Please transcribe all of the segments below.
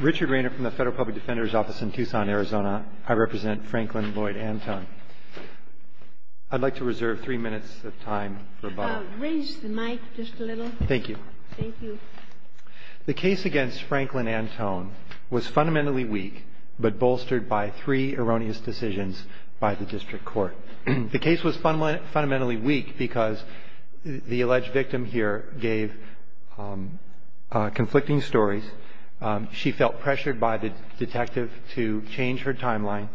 Richard Rainer from the Federal Public Defender's Office in Tucson, Arizona. I represent Franklin Lloyd Antone. I'd like to reserve three minutes of time for a vote. Raise the mic just a little. Thank you. Thank you. The case against Franklin Antone was fundamentally weak but bolstered by three erroneous decisions by the District Court. The case was fundamentally weak because the alleged victim here gave conflicting stories. She felt pressured by the detective to change her timeline,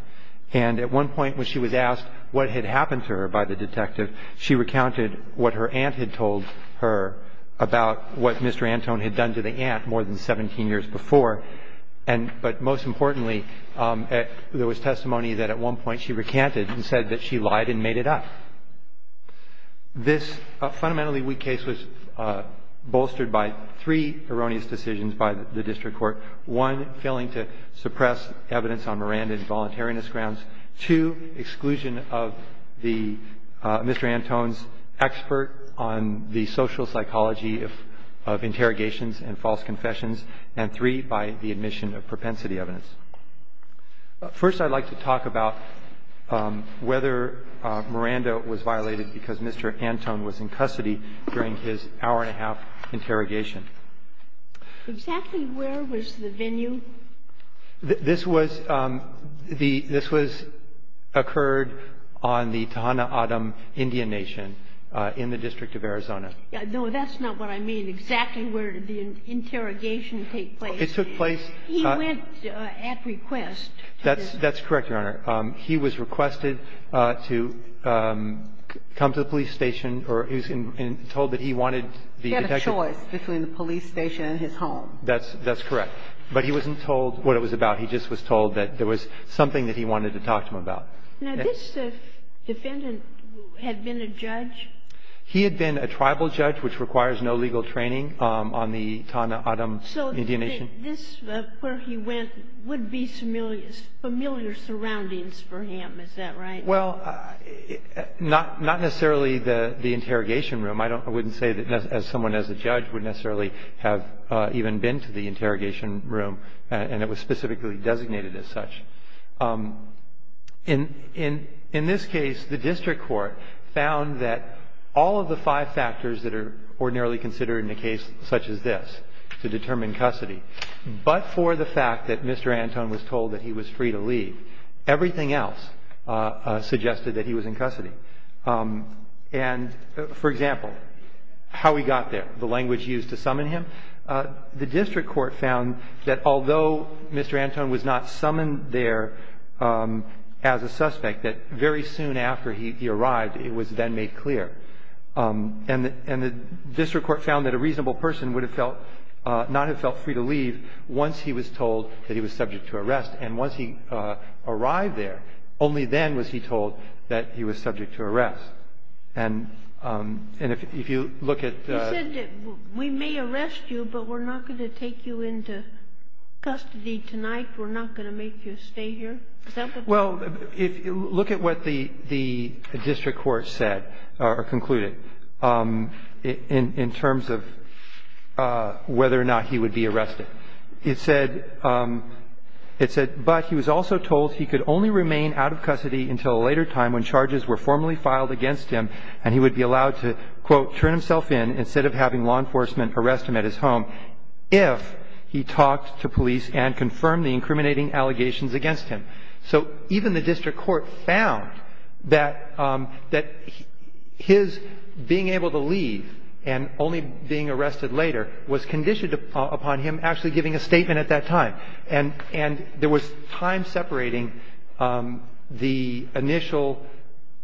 and at one point when she was asked what had happened to her by the detective, she recounted what her aunt had told her about what Mr. Antone had done to the aunt more than 17 years before. But most importantly, there was testimony that at one point she recanted and said that she lied and made it up. This fundamentally weak case was bolstered by three erroneous decisions by the District Court. One, failing to suppress evidence on Miranda's voluntariness grounds. Two, exclusion of the Mr. Antone's expert on the social psychology of interrogations and false confessions. And three, by the admission of propensity evidence. First, I'd like to talk about whether Miranda was violated because Mr. Antone was in custody during his hour-and-a-half interrogation. Exactly where was the venue? This was the — this was — occurred on the Tejana-Adum Indian Nation in the District of Arizona. No, that's not what I mean. Exactly where did the interrogation take place? It took place — He went at request. That's correct, Your Honor. He was requested to come to the police station, or he was told that he wanted the detective — He had a choice between the police station and his home. That's correct. But he wasn't told what it was about. He just was told that there was something that he wanted to talk to him about. Now, this defendant had been a judge? He had been a tribal judge, which requires no legal training on the Tejana-Adum Indian Nation. So this, where he went, would be familiar surroundings for him. Is that right? Well, not necessarily the interrogation room. I don't — I wouldn't say that someone as a judge would necessarily have even been to the interrogation room. And it was specifically designated as such. In this case, the district court found that all of the five factors that are ordinarily considered in a case such as this, to determine custody, but for the fact that Mr. Anton was told that he was free to leave, everything else suggested that he was in custody. And, for example, how he got there, the language used to summon him, the district court found that although Mr. Anton was not summoned there as a suspect, that very soon after he arrived, it was then made clear. And the district court found that a reasonable person would have felt — not have felt free to leave once he was told that he was subject to arrest. And once he arrived there, only then was he told that he was subject to arrest. And if you look at the — You said that we may arrest you, but we're not going to take you into custody tonight. We're not going to make you stay here. Is that what you said? Well, look at what the district court said, or concluded, in terms of whether or not he would be arrested. It said — it said, but he was also told he could only remain out of custody until a later time when charges were formally filed against him and he would be allowed to, quote, turn himself in instead of having law enforcement arrest him at his home if he talked to police and confirmed the incriminating allegations against him. So even the district court found that his being able to leave and only being arrested later was conditioned upon him actually giving a statement at that time. And there was time separating the initial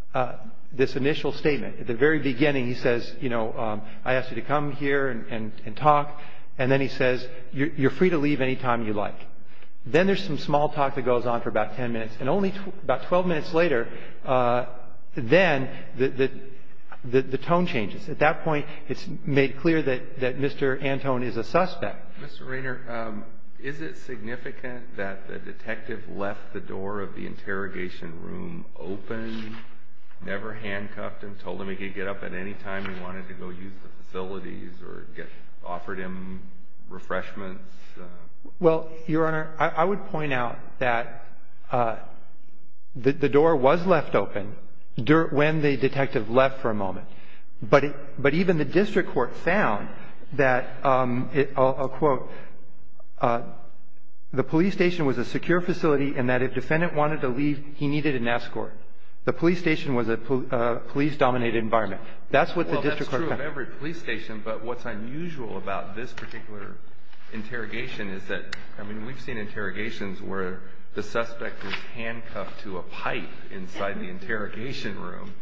— this initial statement. At the very beginning, he says, you know, I asked you to come here and talk. And then he says, you're free to leave any time you like. Then there's some small talk that goes on for about 10 minutes. And only about 12 minutes later, then the tone changes. At that point, it's made clear that Mr. Antone is a suspect. Mr. Raynor, is it significant that the detective left the door of the interrogation room open, never handcuffed him, told him he could get up at any time he wanted to go use the facilities or offered him refreshments? Well, Your Honor, I would point out that the door was left open when the detective left for a moment. But even the district court found that, I'll quote, the police station was a secure facility and that if defendant wanted to leave, he needed an escort. The police station was a police-dominated environment. That's what the district court found. Well, that's true of every police station. But what's unusual about this particular interrogation is that, I mean, we've seen interrogations where the suspect is handcuffed to a pipe inside the interrogation room,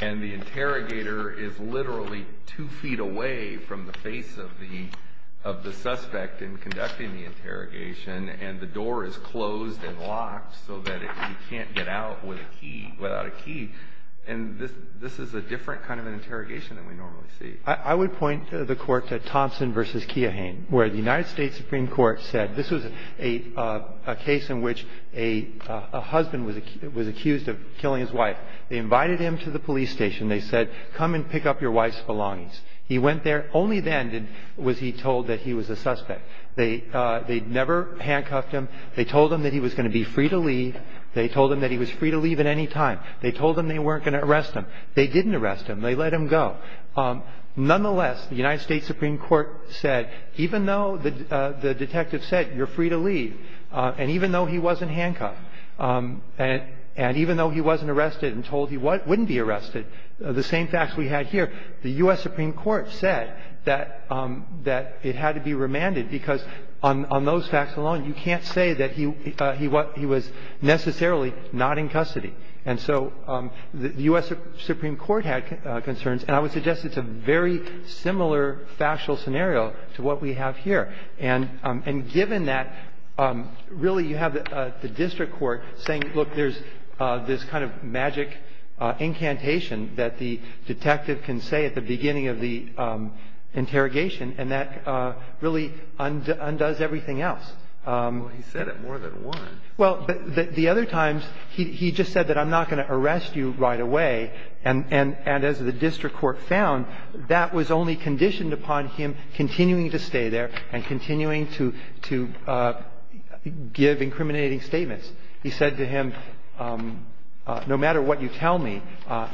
and the interrogator is literally two feet away from the face of the suspect in conducting the interrogation, and the door is closed and locked so that he can't get out without a key. And this is a different kind of an interrogation than we normally see. I would point the Court to Thompson v. Keohane, where the United States Supreme Court said this was a case in which a husband was accused of killing his wife. They invited him to the police station. They said, come and pick up your wife's belongings. He went there. Only then was he told that he was a suspect. They never handcuffed him. They told him that he was going to be free to leave. They told him that he was free to leave at any time. They told him they weren't going to arrest him. They didn't arrest him. They let him go. Nonetheless, the United States Supreme Court said even though the detective said, you're free to leave, and even though he wasn't handcuffed, and even though he wasn't arrested and told he wouldn't be arrested, the same facts we had here, the U.S. Supreme Court said that it had to be remanded because on those facts alone, you can't say that he was necessarily not in custody. And so the U.S. Supreme Court had concerns, and I would suggest it's a very similar factual scenario to what we have here. And given that, really, you have the district court saying, look, there's this kind of magic incantation that the detective can say at the beginning of the interrogation, and that really undoes everything else. Well, he said it more than once. Well, the other times, he just said that I'm not going to arrest you right away. And as the district court found, that was only conditioned upon him continuing to stay there and continuing to give incriminating statements. He said to him, no matter what you tell me,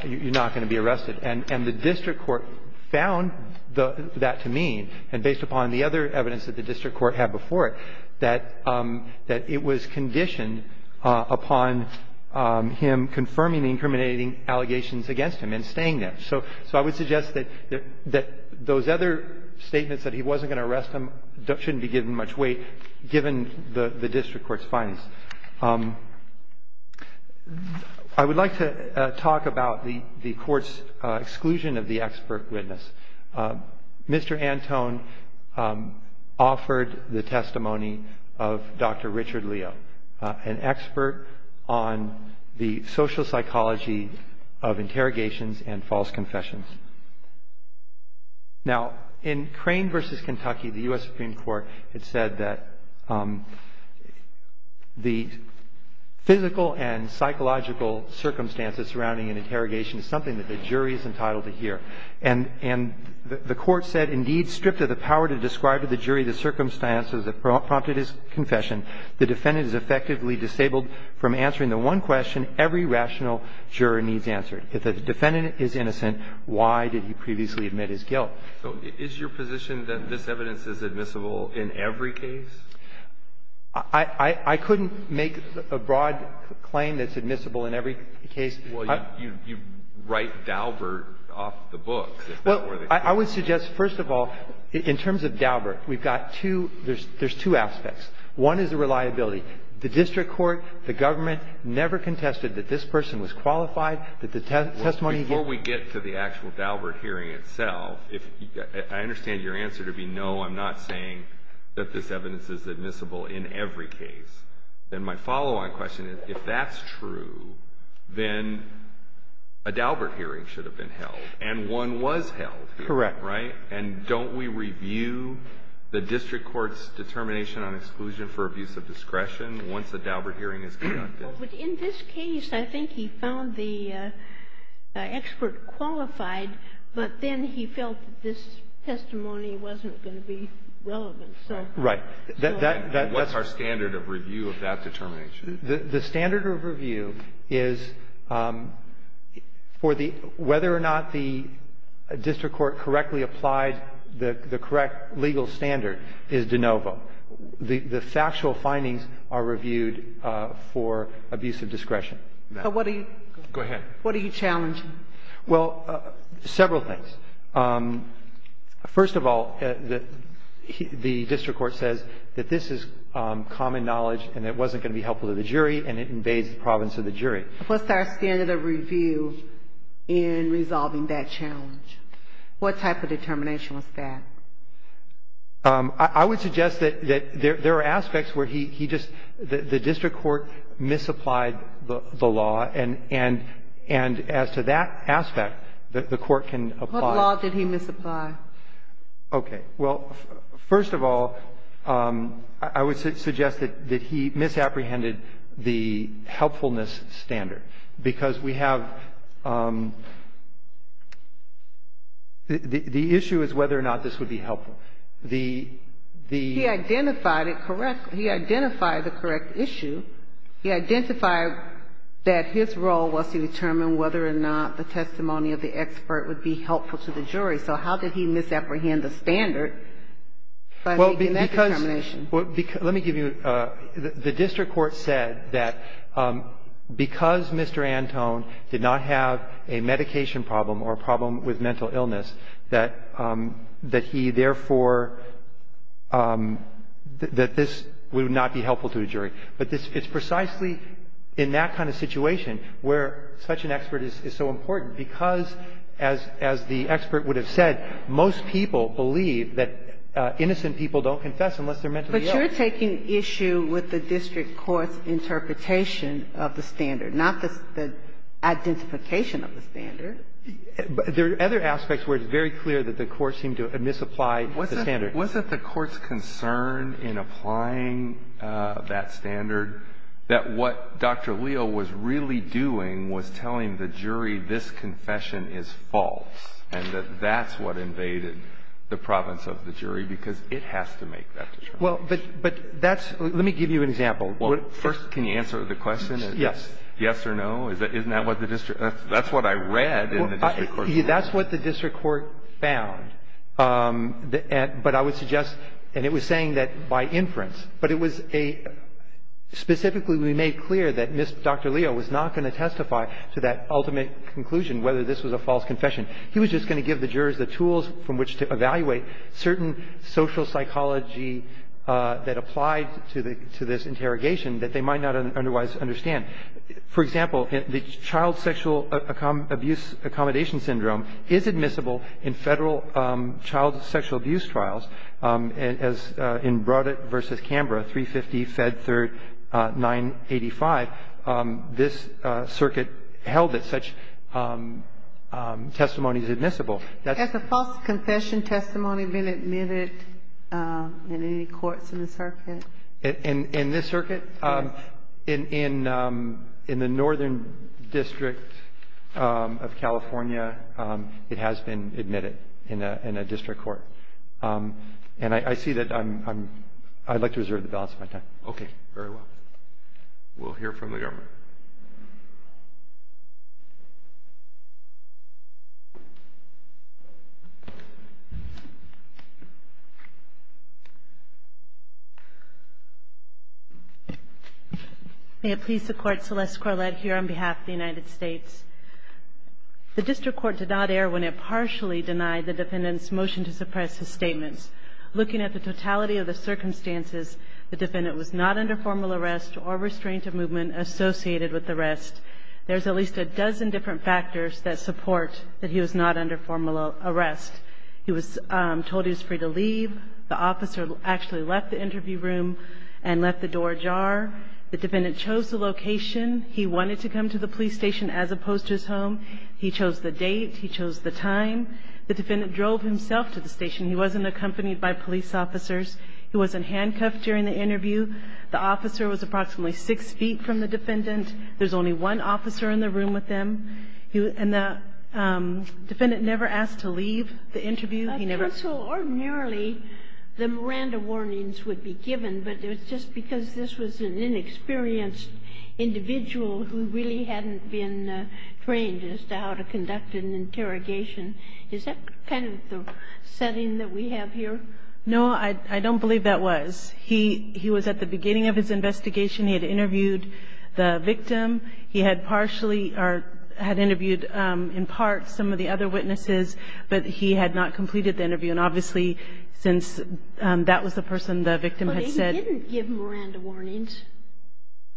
you're not going to be arrested. And the district court found that to mean, and based upon the other evidence that the district court had before it, that it was conditioned upon him confirming the incriminating allegations against him and staying there. And so I would suggest that those other statements that he wasn't going to arrest him shouldn't be given much weight, given the district court's findings. I would like to talk about the Court's exclusion of the expert witness. Mr. Antone offered the testimony of Dr. Richard Leo, an expert on the social psychology of interrogations and false confessions. Now, in Crane v. Kentucky, the U.S. Supreme Court had said that the physical and psychological circumstances surrounding an interrogation is something that the jury is entitled to hear. And the Court said, indeed, stripped of the power to describe to the jury the circumstances that prompted his confession, the defendant is effectively disabled from answering the one question every rational juror needs answered. If the defendant is innocent, why did he previously admit his guilt? So is your position that this evidence is admissible in every case? I couldn't make a broad claim that's admissible in every case. Well, you write Daubert off the books. Well, I would suggest, first of all, in terms of Daubert, we've got two – there's two aspects. One is the reliability. The district court, the government never contested that this person was qualified, that the testimony he gave – Well, before we get to the actual Daubert hearing itself, if – I understand your answer to be, no, I'm not saying that this evidence is admissible in every case. Then my follow-on question is, if that's true, then a Daubert hearing should have been held. And one was held. Correct. Right? And don't we review the district court's determination on exclusion for abuse of discretion once the Daubert hearing is conducted? Well, but in this case, I think he found the expert qualified, but then he felt that this testimony wasn't going to be relevant, so. Right. And what's our standard of review of that determination? The standard of review is for the – whether or not the district court correctly applied the correct legal standard is de novo. The factual findings are reviewed for abuse of discretion. But what are you – Go ahead. What are you challenging? Well, several things. First of all, the district court says that this is common knowledge and it wasn't going to be helpful to the jury, and it invades the province of the jury. What's our standard of review in resolving that challenge? What type of determination was that? I would suggest that there are aspects where he just – the district court misapplied the law, and as to that aspect, the court can apply. What law did he misapply? Okay. Well, first of all, I would suggest that he misapprehended the helpfulness standard, because we have – the issue is whether or not this would be helpful. The – the – He identified it correctly. He identified the correct issue. He identified that his role was to determine whether or not the testimony of the expert would be helpful to the jury. So how did he misapprehend the standard by making that determination? Well, because – let me give you – the district court said that because Mr. Antone did not have a medication problem or a problem with mental illness, that he therefore – that this would not be helpful to the jury. But it's precisely in that kind of situation where such an expert is so important, because as – as the expert would have said, most people believe that innocent people don't confess unless they're mentally ill. But you're taking issue with the district court's interpretation of the standard, not the – the identification of the standard. There are other aspects where it's very clear that the court seemed to misapply the standard. Wasn't – wasn't the court's concern in applying that standard that what Dr. Leo was really doing was telling the jury this confession is false and that that's what invaded the province of the jury? Because it has to make that determination. Well, but – but that's – let me give you an example. First, can you answer the question? Yes. Yes or no? Isn't that what the district – that's what I read in the district court report. That's what the district court found. But I would suggest – and it was saying that by inference. But it was a – specifically we made clear that Dr. Leo was not going to testify to that ultimate conclusion, whether this was a false confession. He was just going to give the jurors the tools from which to evaluate certain social psychology that applied to the – to this interrogation that they might not otherwise understand. For example, the child sexual abuse accommodation syndrome is admissible in Federal child sexual abuse trials as in Brodett v. Canberra, 350 Fed Third 985. This circuit held that such testimony is admissible. Has a false confession testimony been admitted in any courts in the circuit? In this circuit? Yes. In the Northern District of California, it has been admitted in a district court. And I see that I'm – I'd like to reserve the balance of my time. Okay. Very well. We'll hear from the government. May it please the Court, Celeste Corlett here on behalf of the United States. The district court did not err when it partially denied the defendant's motion to suppress his statements. Looking at the totality of the circumstances, the defendant was not under formal arrest or restraint of movement associated with the arrest. There's at least a dozen different factors that support that he was not under formal arrest. He was told he was free to leave. The officer actually left the interview room and left the doorjar. The defendant chose the location. He wanted to come to the police station as opposed to his home. He chose the date. He chose the time. The defendant drove himself to the station. He wasn't accompanied by police officers. He wasn't handcuffed during the interview. The officer was approximately 6 feet from the defendant. There's only one officer in the room with him. And the defendant never asked to leave the interview. He never – Counsel, ordinarily, the Miranda warnings would be given, but just because this was an inexperienced individual who really hadn't been trained as to how to conduct an interrogation, is that kind of the setting that we have here? No, I don't believe that was. He was at the beginning of his investigation. He had interviewed the victim. He had partially or had interviewed in part some of the other witnesses, but he had not completed the interview. And obviously, since that was the person the victim had said –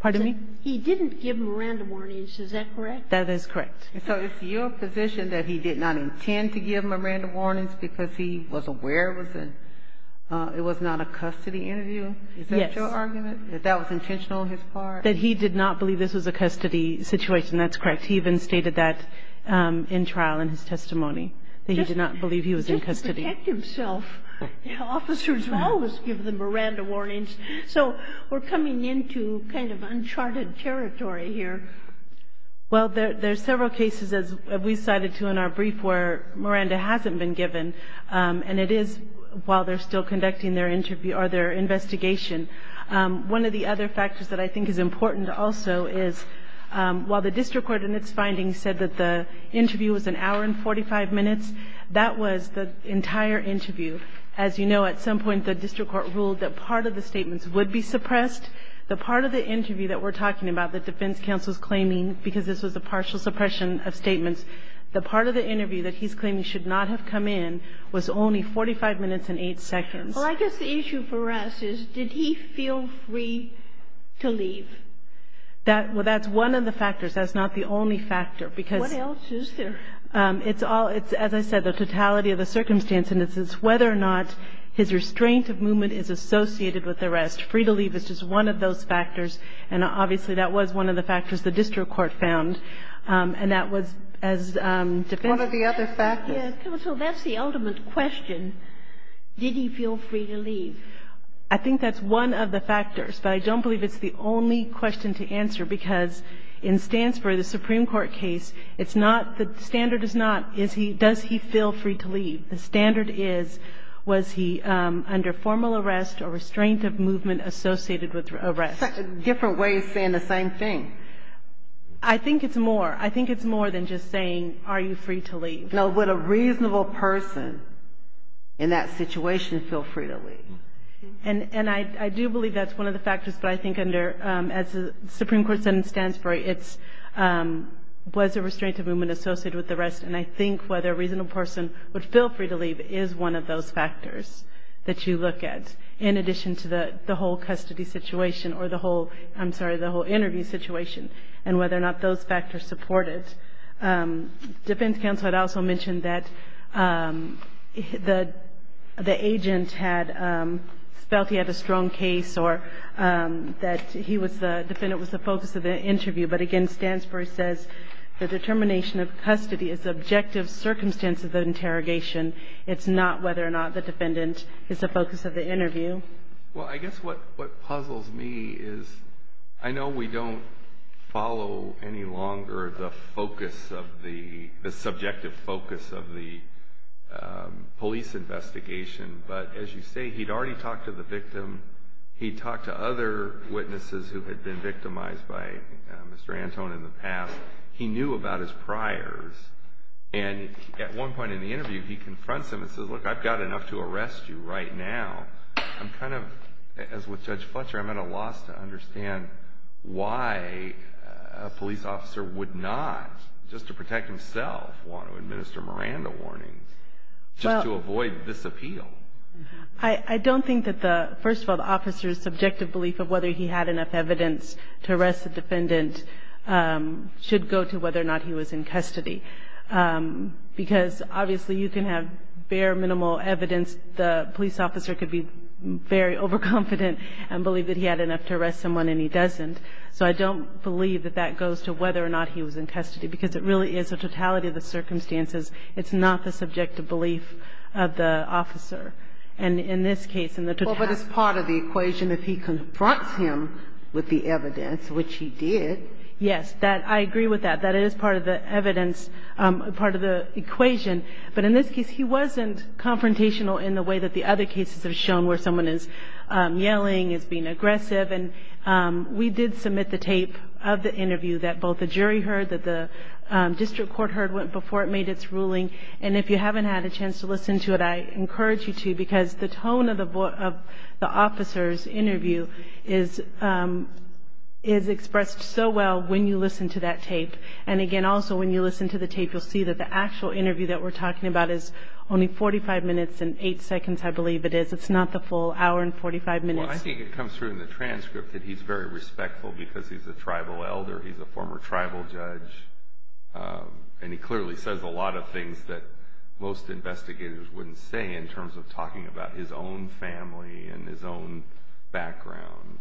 Pardon me? He didn't give Miranda warnings. Is that correct? That is correct. So it's your position that he did not intend to give Miranda warnings because he was aware it was a – it was not a custody interview? Yes. Is that your argument, that that was intentional on his part? That he did not believe this was a custody situation. That's correct. He even stated that in trial in his testimony, that he did not believe he was in custody. Just protect himself. Officers will always give the Miranda warnings. So we're coming into kind of uncharted territory here. Well, there's several cases, as we cited too in our brief, where Miranda hasn't been given. And it is while they're still conducting their interview or their investigation. One of the other factors that I think is important also is while the district court in its findings said that the interview was an hour and 45 minutes, that was the entire interview. As you know, at some point the district court ruled that part of the statements would be suppressed. The part of the interview that we're talking about that defense counsel is claiming because this was a partial suppression of statements, the part of the interview that he's claiming should not have come in was only 45 minutes and 8 seconds. Well, I guess the issue for us is, did he feel free to leave? That's one of the factors. That's not the only factor, because – What else is there? It's all – it's, as I said, the totality of the circumstance, and it's whether or not his restraint of movement is associated with the rest. Free to leave is just one of those factors, and obviously that was one of the factors the district court found. And that was as defense counsel – What are the other factors? Yes, counsel, that's the ultimate question. Did he feel free to leave? I think that's one of the factors, but I don't believe it's the only question to answer, because in Stansford, the Supreme Court case, it's not – the standard is not, does he feel free to leave? The standard is, was he under formal arrest or restraint of movement associated with arrest? Different ways of saying the same thing. I think it's more. I think it's more than just saying, are you free to leave? Now, would a reasonable person in that situation feel free to leave? And I do believe that's one of the factors, but I think under – as the Supreme Court sentence stands for, it was a restraint of movement associated with arrest, and I think whether a reasonable person would feel free to leave is one of those factors that you look at, in addition to the whole custody situation, or the whole – I'm sorry, the whole interview situation, and whether or not those factors support it. Defendant's counsel had also mentioned that the agent had felt he had a strong case or that he was the – the defendant was the focus of the interview, but again, Stansford says the determination of custody is the objective circumstance of the interrogation. It's not whether or not the defendant is the focus of the interview. Well, I guess what puzzles me is I know we don't follow any longer the focus of the – the subjective focus of the police investigation, but as you say, he'd already talked to the victim. He'd talked to other witnesses who had been victimized by Mr. Antone in the past. He knew about his priors, and at one point in the interview, he confronts him and says, look, I've got enough to arrest you right now. I'm kind of – as with Judge Fletcher, I'm at a loss to understand why a police officer would not, just to protect himself, want to administer Miranda warnings, just to avoid this appeal. I don't think that the – first of all, the officer's subjective belief of whether he had enough evidence to arrest the defendant should go to whether or not he was in custody, because obviously you can have bare, minimal evidence. The police officer could be very overconfident and believe that he had enough to arrest someone, and he doesn't. So I don't believe that that goes to whether or not he was in custody, because it really is a totality of the circumstances. It's not the subjective belief of the officer. And in this case, in the totality of the circumstances. Well, but it's part of the equation if he confronts him with the evidence, which he did. Yes. I agree with that. That is part of the evidence, part of the equation. But in this case, he wasn't confrontational in the way that the other cases have shown, where someone is yelling, is being aggressive. And we did submit the tape of the interview that both the jury heard, that the district court heard before it made its ruling. And if you haven't had a chance to listen to it, I encourage you to, because the tone of the officer's interview is expressed so well when you listen to that tape. And, again, also when you listen to the tape, you'll see that the actual interview that we're talking about is only 45 minutes and 8 seconds, I believe it is. It's not the full hour and 45 minutes. Well, I think it comes through in the transcript that he's very respectful, because he's a tribal elder, he's a former tribal judge. And he clearly says a lot of things that most investigators wouldn't say in terms of talking about his own family and his own background.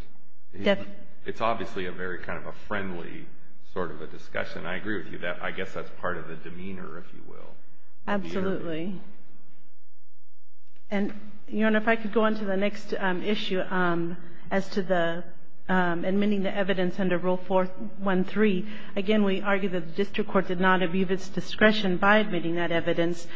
It's obviously a very kind of a friendly sort of a discussion. I agree with you. I guess that's part of the demeanor, if you will. Absolutely. And, Your Honor, if I could go on to the next issue as to admitting the evidence under Rule 413. Again, we argue that the district court did not abuse its discretion by admitting that evidence.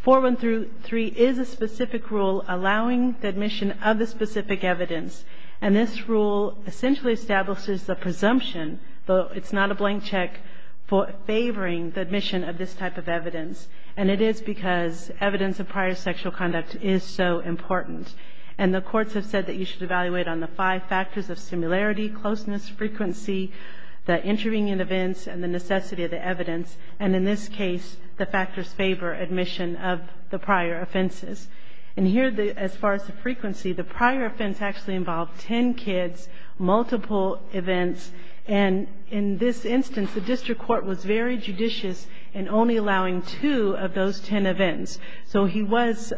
413 is a specific rule allowing the admission of the specific evidence. And this rule essentially establishes the presumption, though it's not a blank check, for favoring the admission of this type of evidence. And it is because evidence of prior sexual conduct is so important. And the courts have said that you should evaluate on the five factors of similarity, closeness, frequency, the intervening events, and the necessity of the evidence. And in this case, the factors favor admission of the prior offenses. And here, as far as the frequency, the prior offense actually involved ten kids, multiple events. And in this instance, the district court was very judicious in only allowing two of those ten events. So he was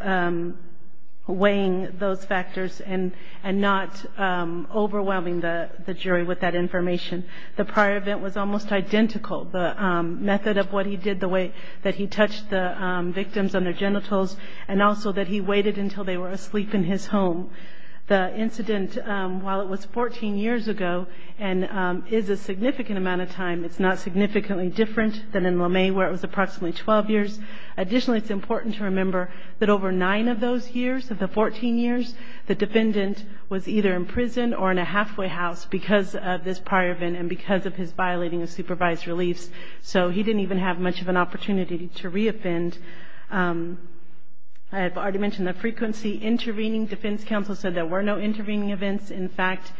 weighing those factors and not overwhelming the jury with that information. The prior event was almost identical. The method of what he did, the way that he touched the victims on their genitals and also that he waited until they were asleep in his home. The incident, while it was 14 years ago and is a significant amount of time, it's not significantly different than in LeMay where it was approximately 12 years. Additionally, it's important to remember that over nine of those years, of the 14 years, the defendant was either in prison or in a halfway house because of this prior event and because of his violating of supervised reliefs. So he didn't even have much of an opportunity to re-offend. I have already mentioned the frequency intervening. Defense counsel said there were no intervening events. In fact,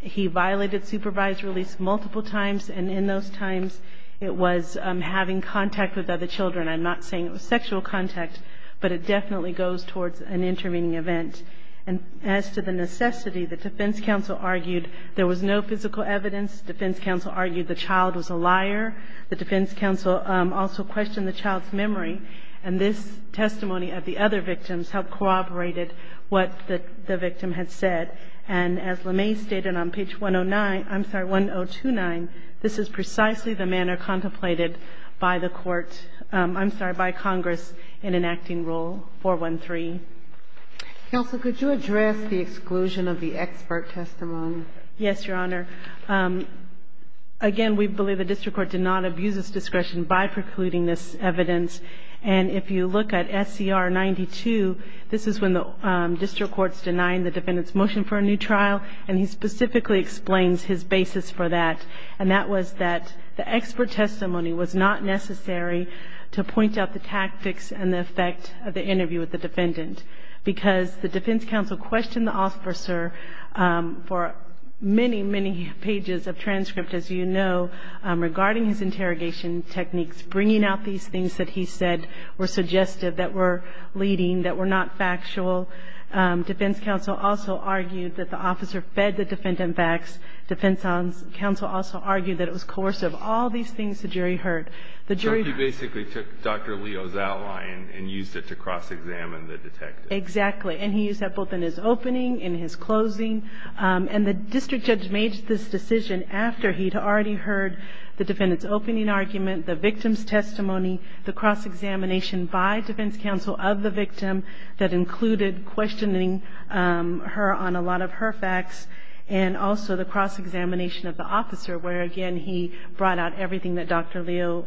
he violated supervised reliefs multiple times, and in those times it was having contact with other children. I'm not saying it was sexual contact, but it definitely goes towards an intervening event. And as to the necessity, the defense counsel argued there was no physical evidence. Defense counsel argued the child was a liar. The defense counsel also questioned the child's memory, and this testimony of the other victims helped corroborate what the victim had said. And as LeMay stated on page 109 – I'm sorry, 1029, this is precisely the manner contemplated by the court – I'm sorry, by Congress in enacting Rule 413. Counsel, could you address the exclusion of the expert testimony? Yes, Your Honor. Again, we believe the district court did not abuse its discretion by precluding this evidence, and if you look at SCR 92, this is when the district court's denying the defendant's motion for a new trial, and he specifically explains his basis for that, and that was that the expert testimony was not necessary to point out the tactics because the defense counsel questioned the officer for many, many pages of transcript, as you know, regarding his interrogation techniques, bringing out these things that he said were suggestive, that were leading, that were not factual. Defense counsel also argued that the officer fed the defendant facts. Defense counsel also argued that it was coercive. All these things the jury heard. So he basically took Dr. Leo's outline and used it to cross-examine the detective. Exactly, and he used that both in his opening, in his closing, and the district judge made this decision after he'd already heard the defendant's opening argument, the victim's testimony, the cross-examination by defense counsel of the victim that included questioning her on a lot of her facts, where, again, he brought out everything that Dr. Leo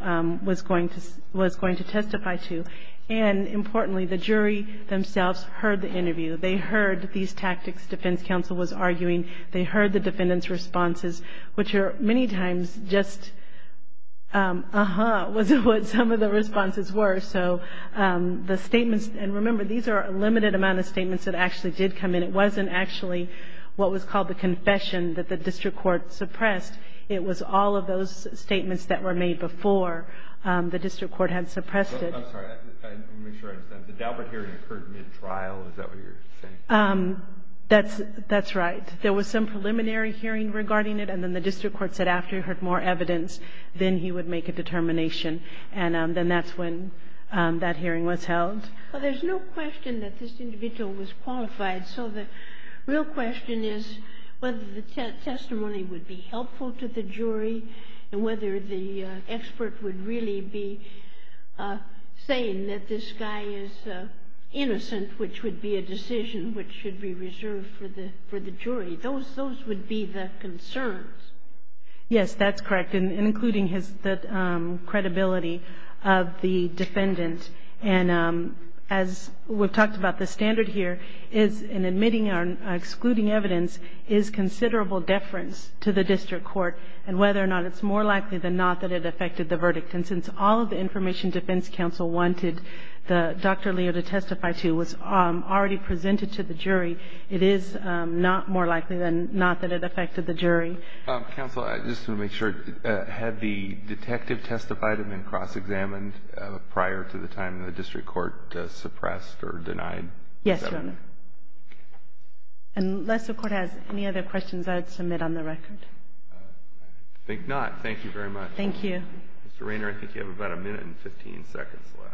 was going to testify to. And, importantly, the jury themselves heard the interview. They heard these tactics defense counsel was arguing. They heard the defendant's responses, which are many times just uh-huh was what some of the responses were. So the statements, and remember, these are a limited amount of statements that actually did come in. It wasn't actually what was called the confession that the district court suppressed. It was all of those statements that were made before the district court had suppressed it. I'm sorry. I want to make sure I understand. The Daubert hearing occurred mid-trial? Is that what you're saying? That's right. There was some preliminary hearing regarding it, and then the district court said after he heard more evidence, then he would make a determination. And then that's when that hearing was held. Well, there's no question that this individual was qualified. So the real question is whether the testimony would be helpful to the jury and whether the expert would really be saying that this guy is innocent, which would be a decision which should be reserved for the jury. Those would be the concerns. Yes, that's correct. And including the credibility of the defendant. And as we've talked about, the standard here is in admitting or excluding evidence is considerable deference to the district court and whether or not it's more likely than not that it affected the verdict. And since all of the information defense counsel wanted Dr. Leo to testify to was already presented to the jury, it is not more likely than not that it affected the jury. Counsel, I just want to make sure. Had the detective testified and been cross-examined prior to the time the district court suppressed or denied? Yes, Your Honor. Unless the Court has any other questions, I would submit on the record. I think not. Thank you very much. Thank you. Mr. Raynor, I think you have about a minute and 15 seconds left.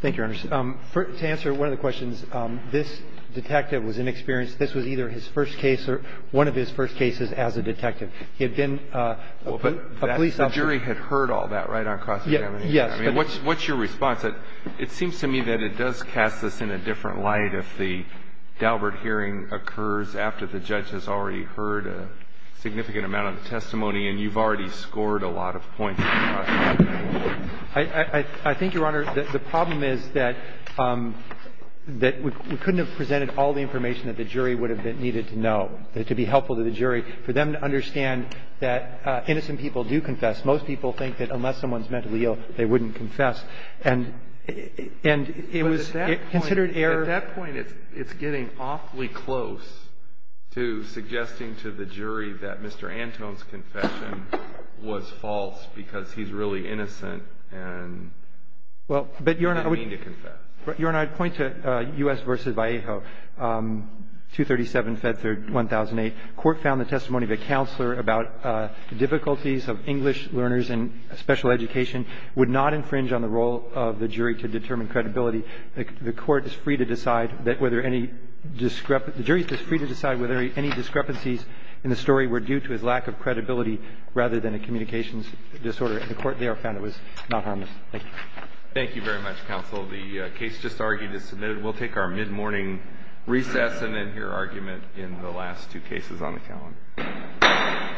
Thank you, Your Honor. To answer one of the questions, this detective was inexperienced. This was either his first case or one of his first cases as a detective. He had been a police officer. Well, but the jury had heard all that right on cross-examination. Yes. I mean, what's your response? It seems to me that it does cast this in a different light if the Daubert hearing occurs after the judge has already heard a significant amount of the testimony and you've already scored a lot of points on cross-examination. I think, Your Honor, the problem is that we couldn't have presented all the information that the jury would have needed to know, to be helpful to the jury, for them to understand that innocent people do confess. Most people think that unless someone's mentally ill, they wouldn't confess. But at that point, it's getting awfully close to suggesting to the jury that Mr. Antone's confession was false because he's really innocent and didn't mean to confess. Your Honor, I'd point to U.S. v. Vallejo, 237-FED-1008. Court found the testimony of a counselor about difficulties of English learners in special education would not infringe on the role of the jury to determine credibility. The court is free to decide whether any – the jury is free to decide whether any discrepancies in the story were due to his lack of credibility rather than a communications disorder. And the court there found it was not harmless. Thank you. Thank you very much, counsel. The case just argued is submitted. We'll take our mid-morning recess and then hear argument in the last two cases on the calendar.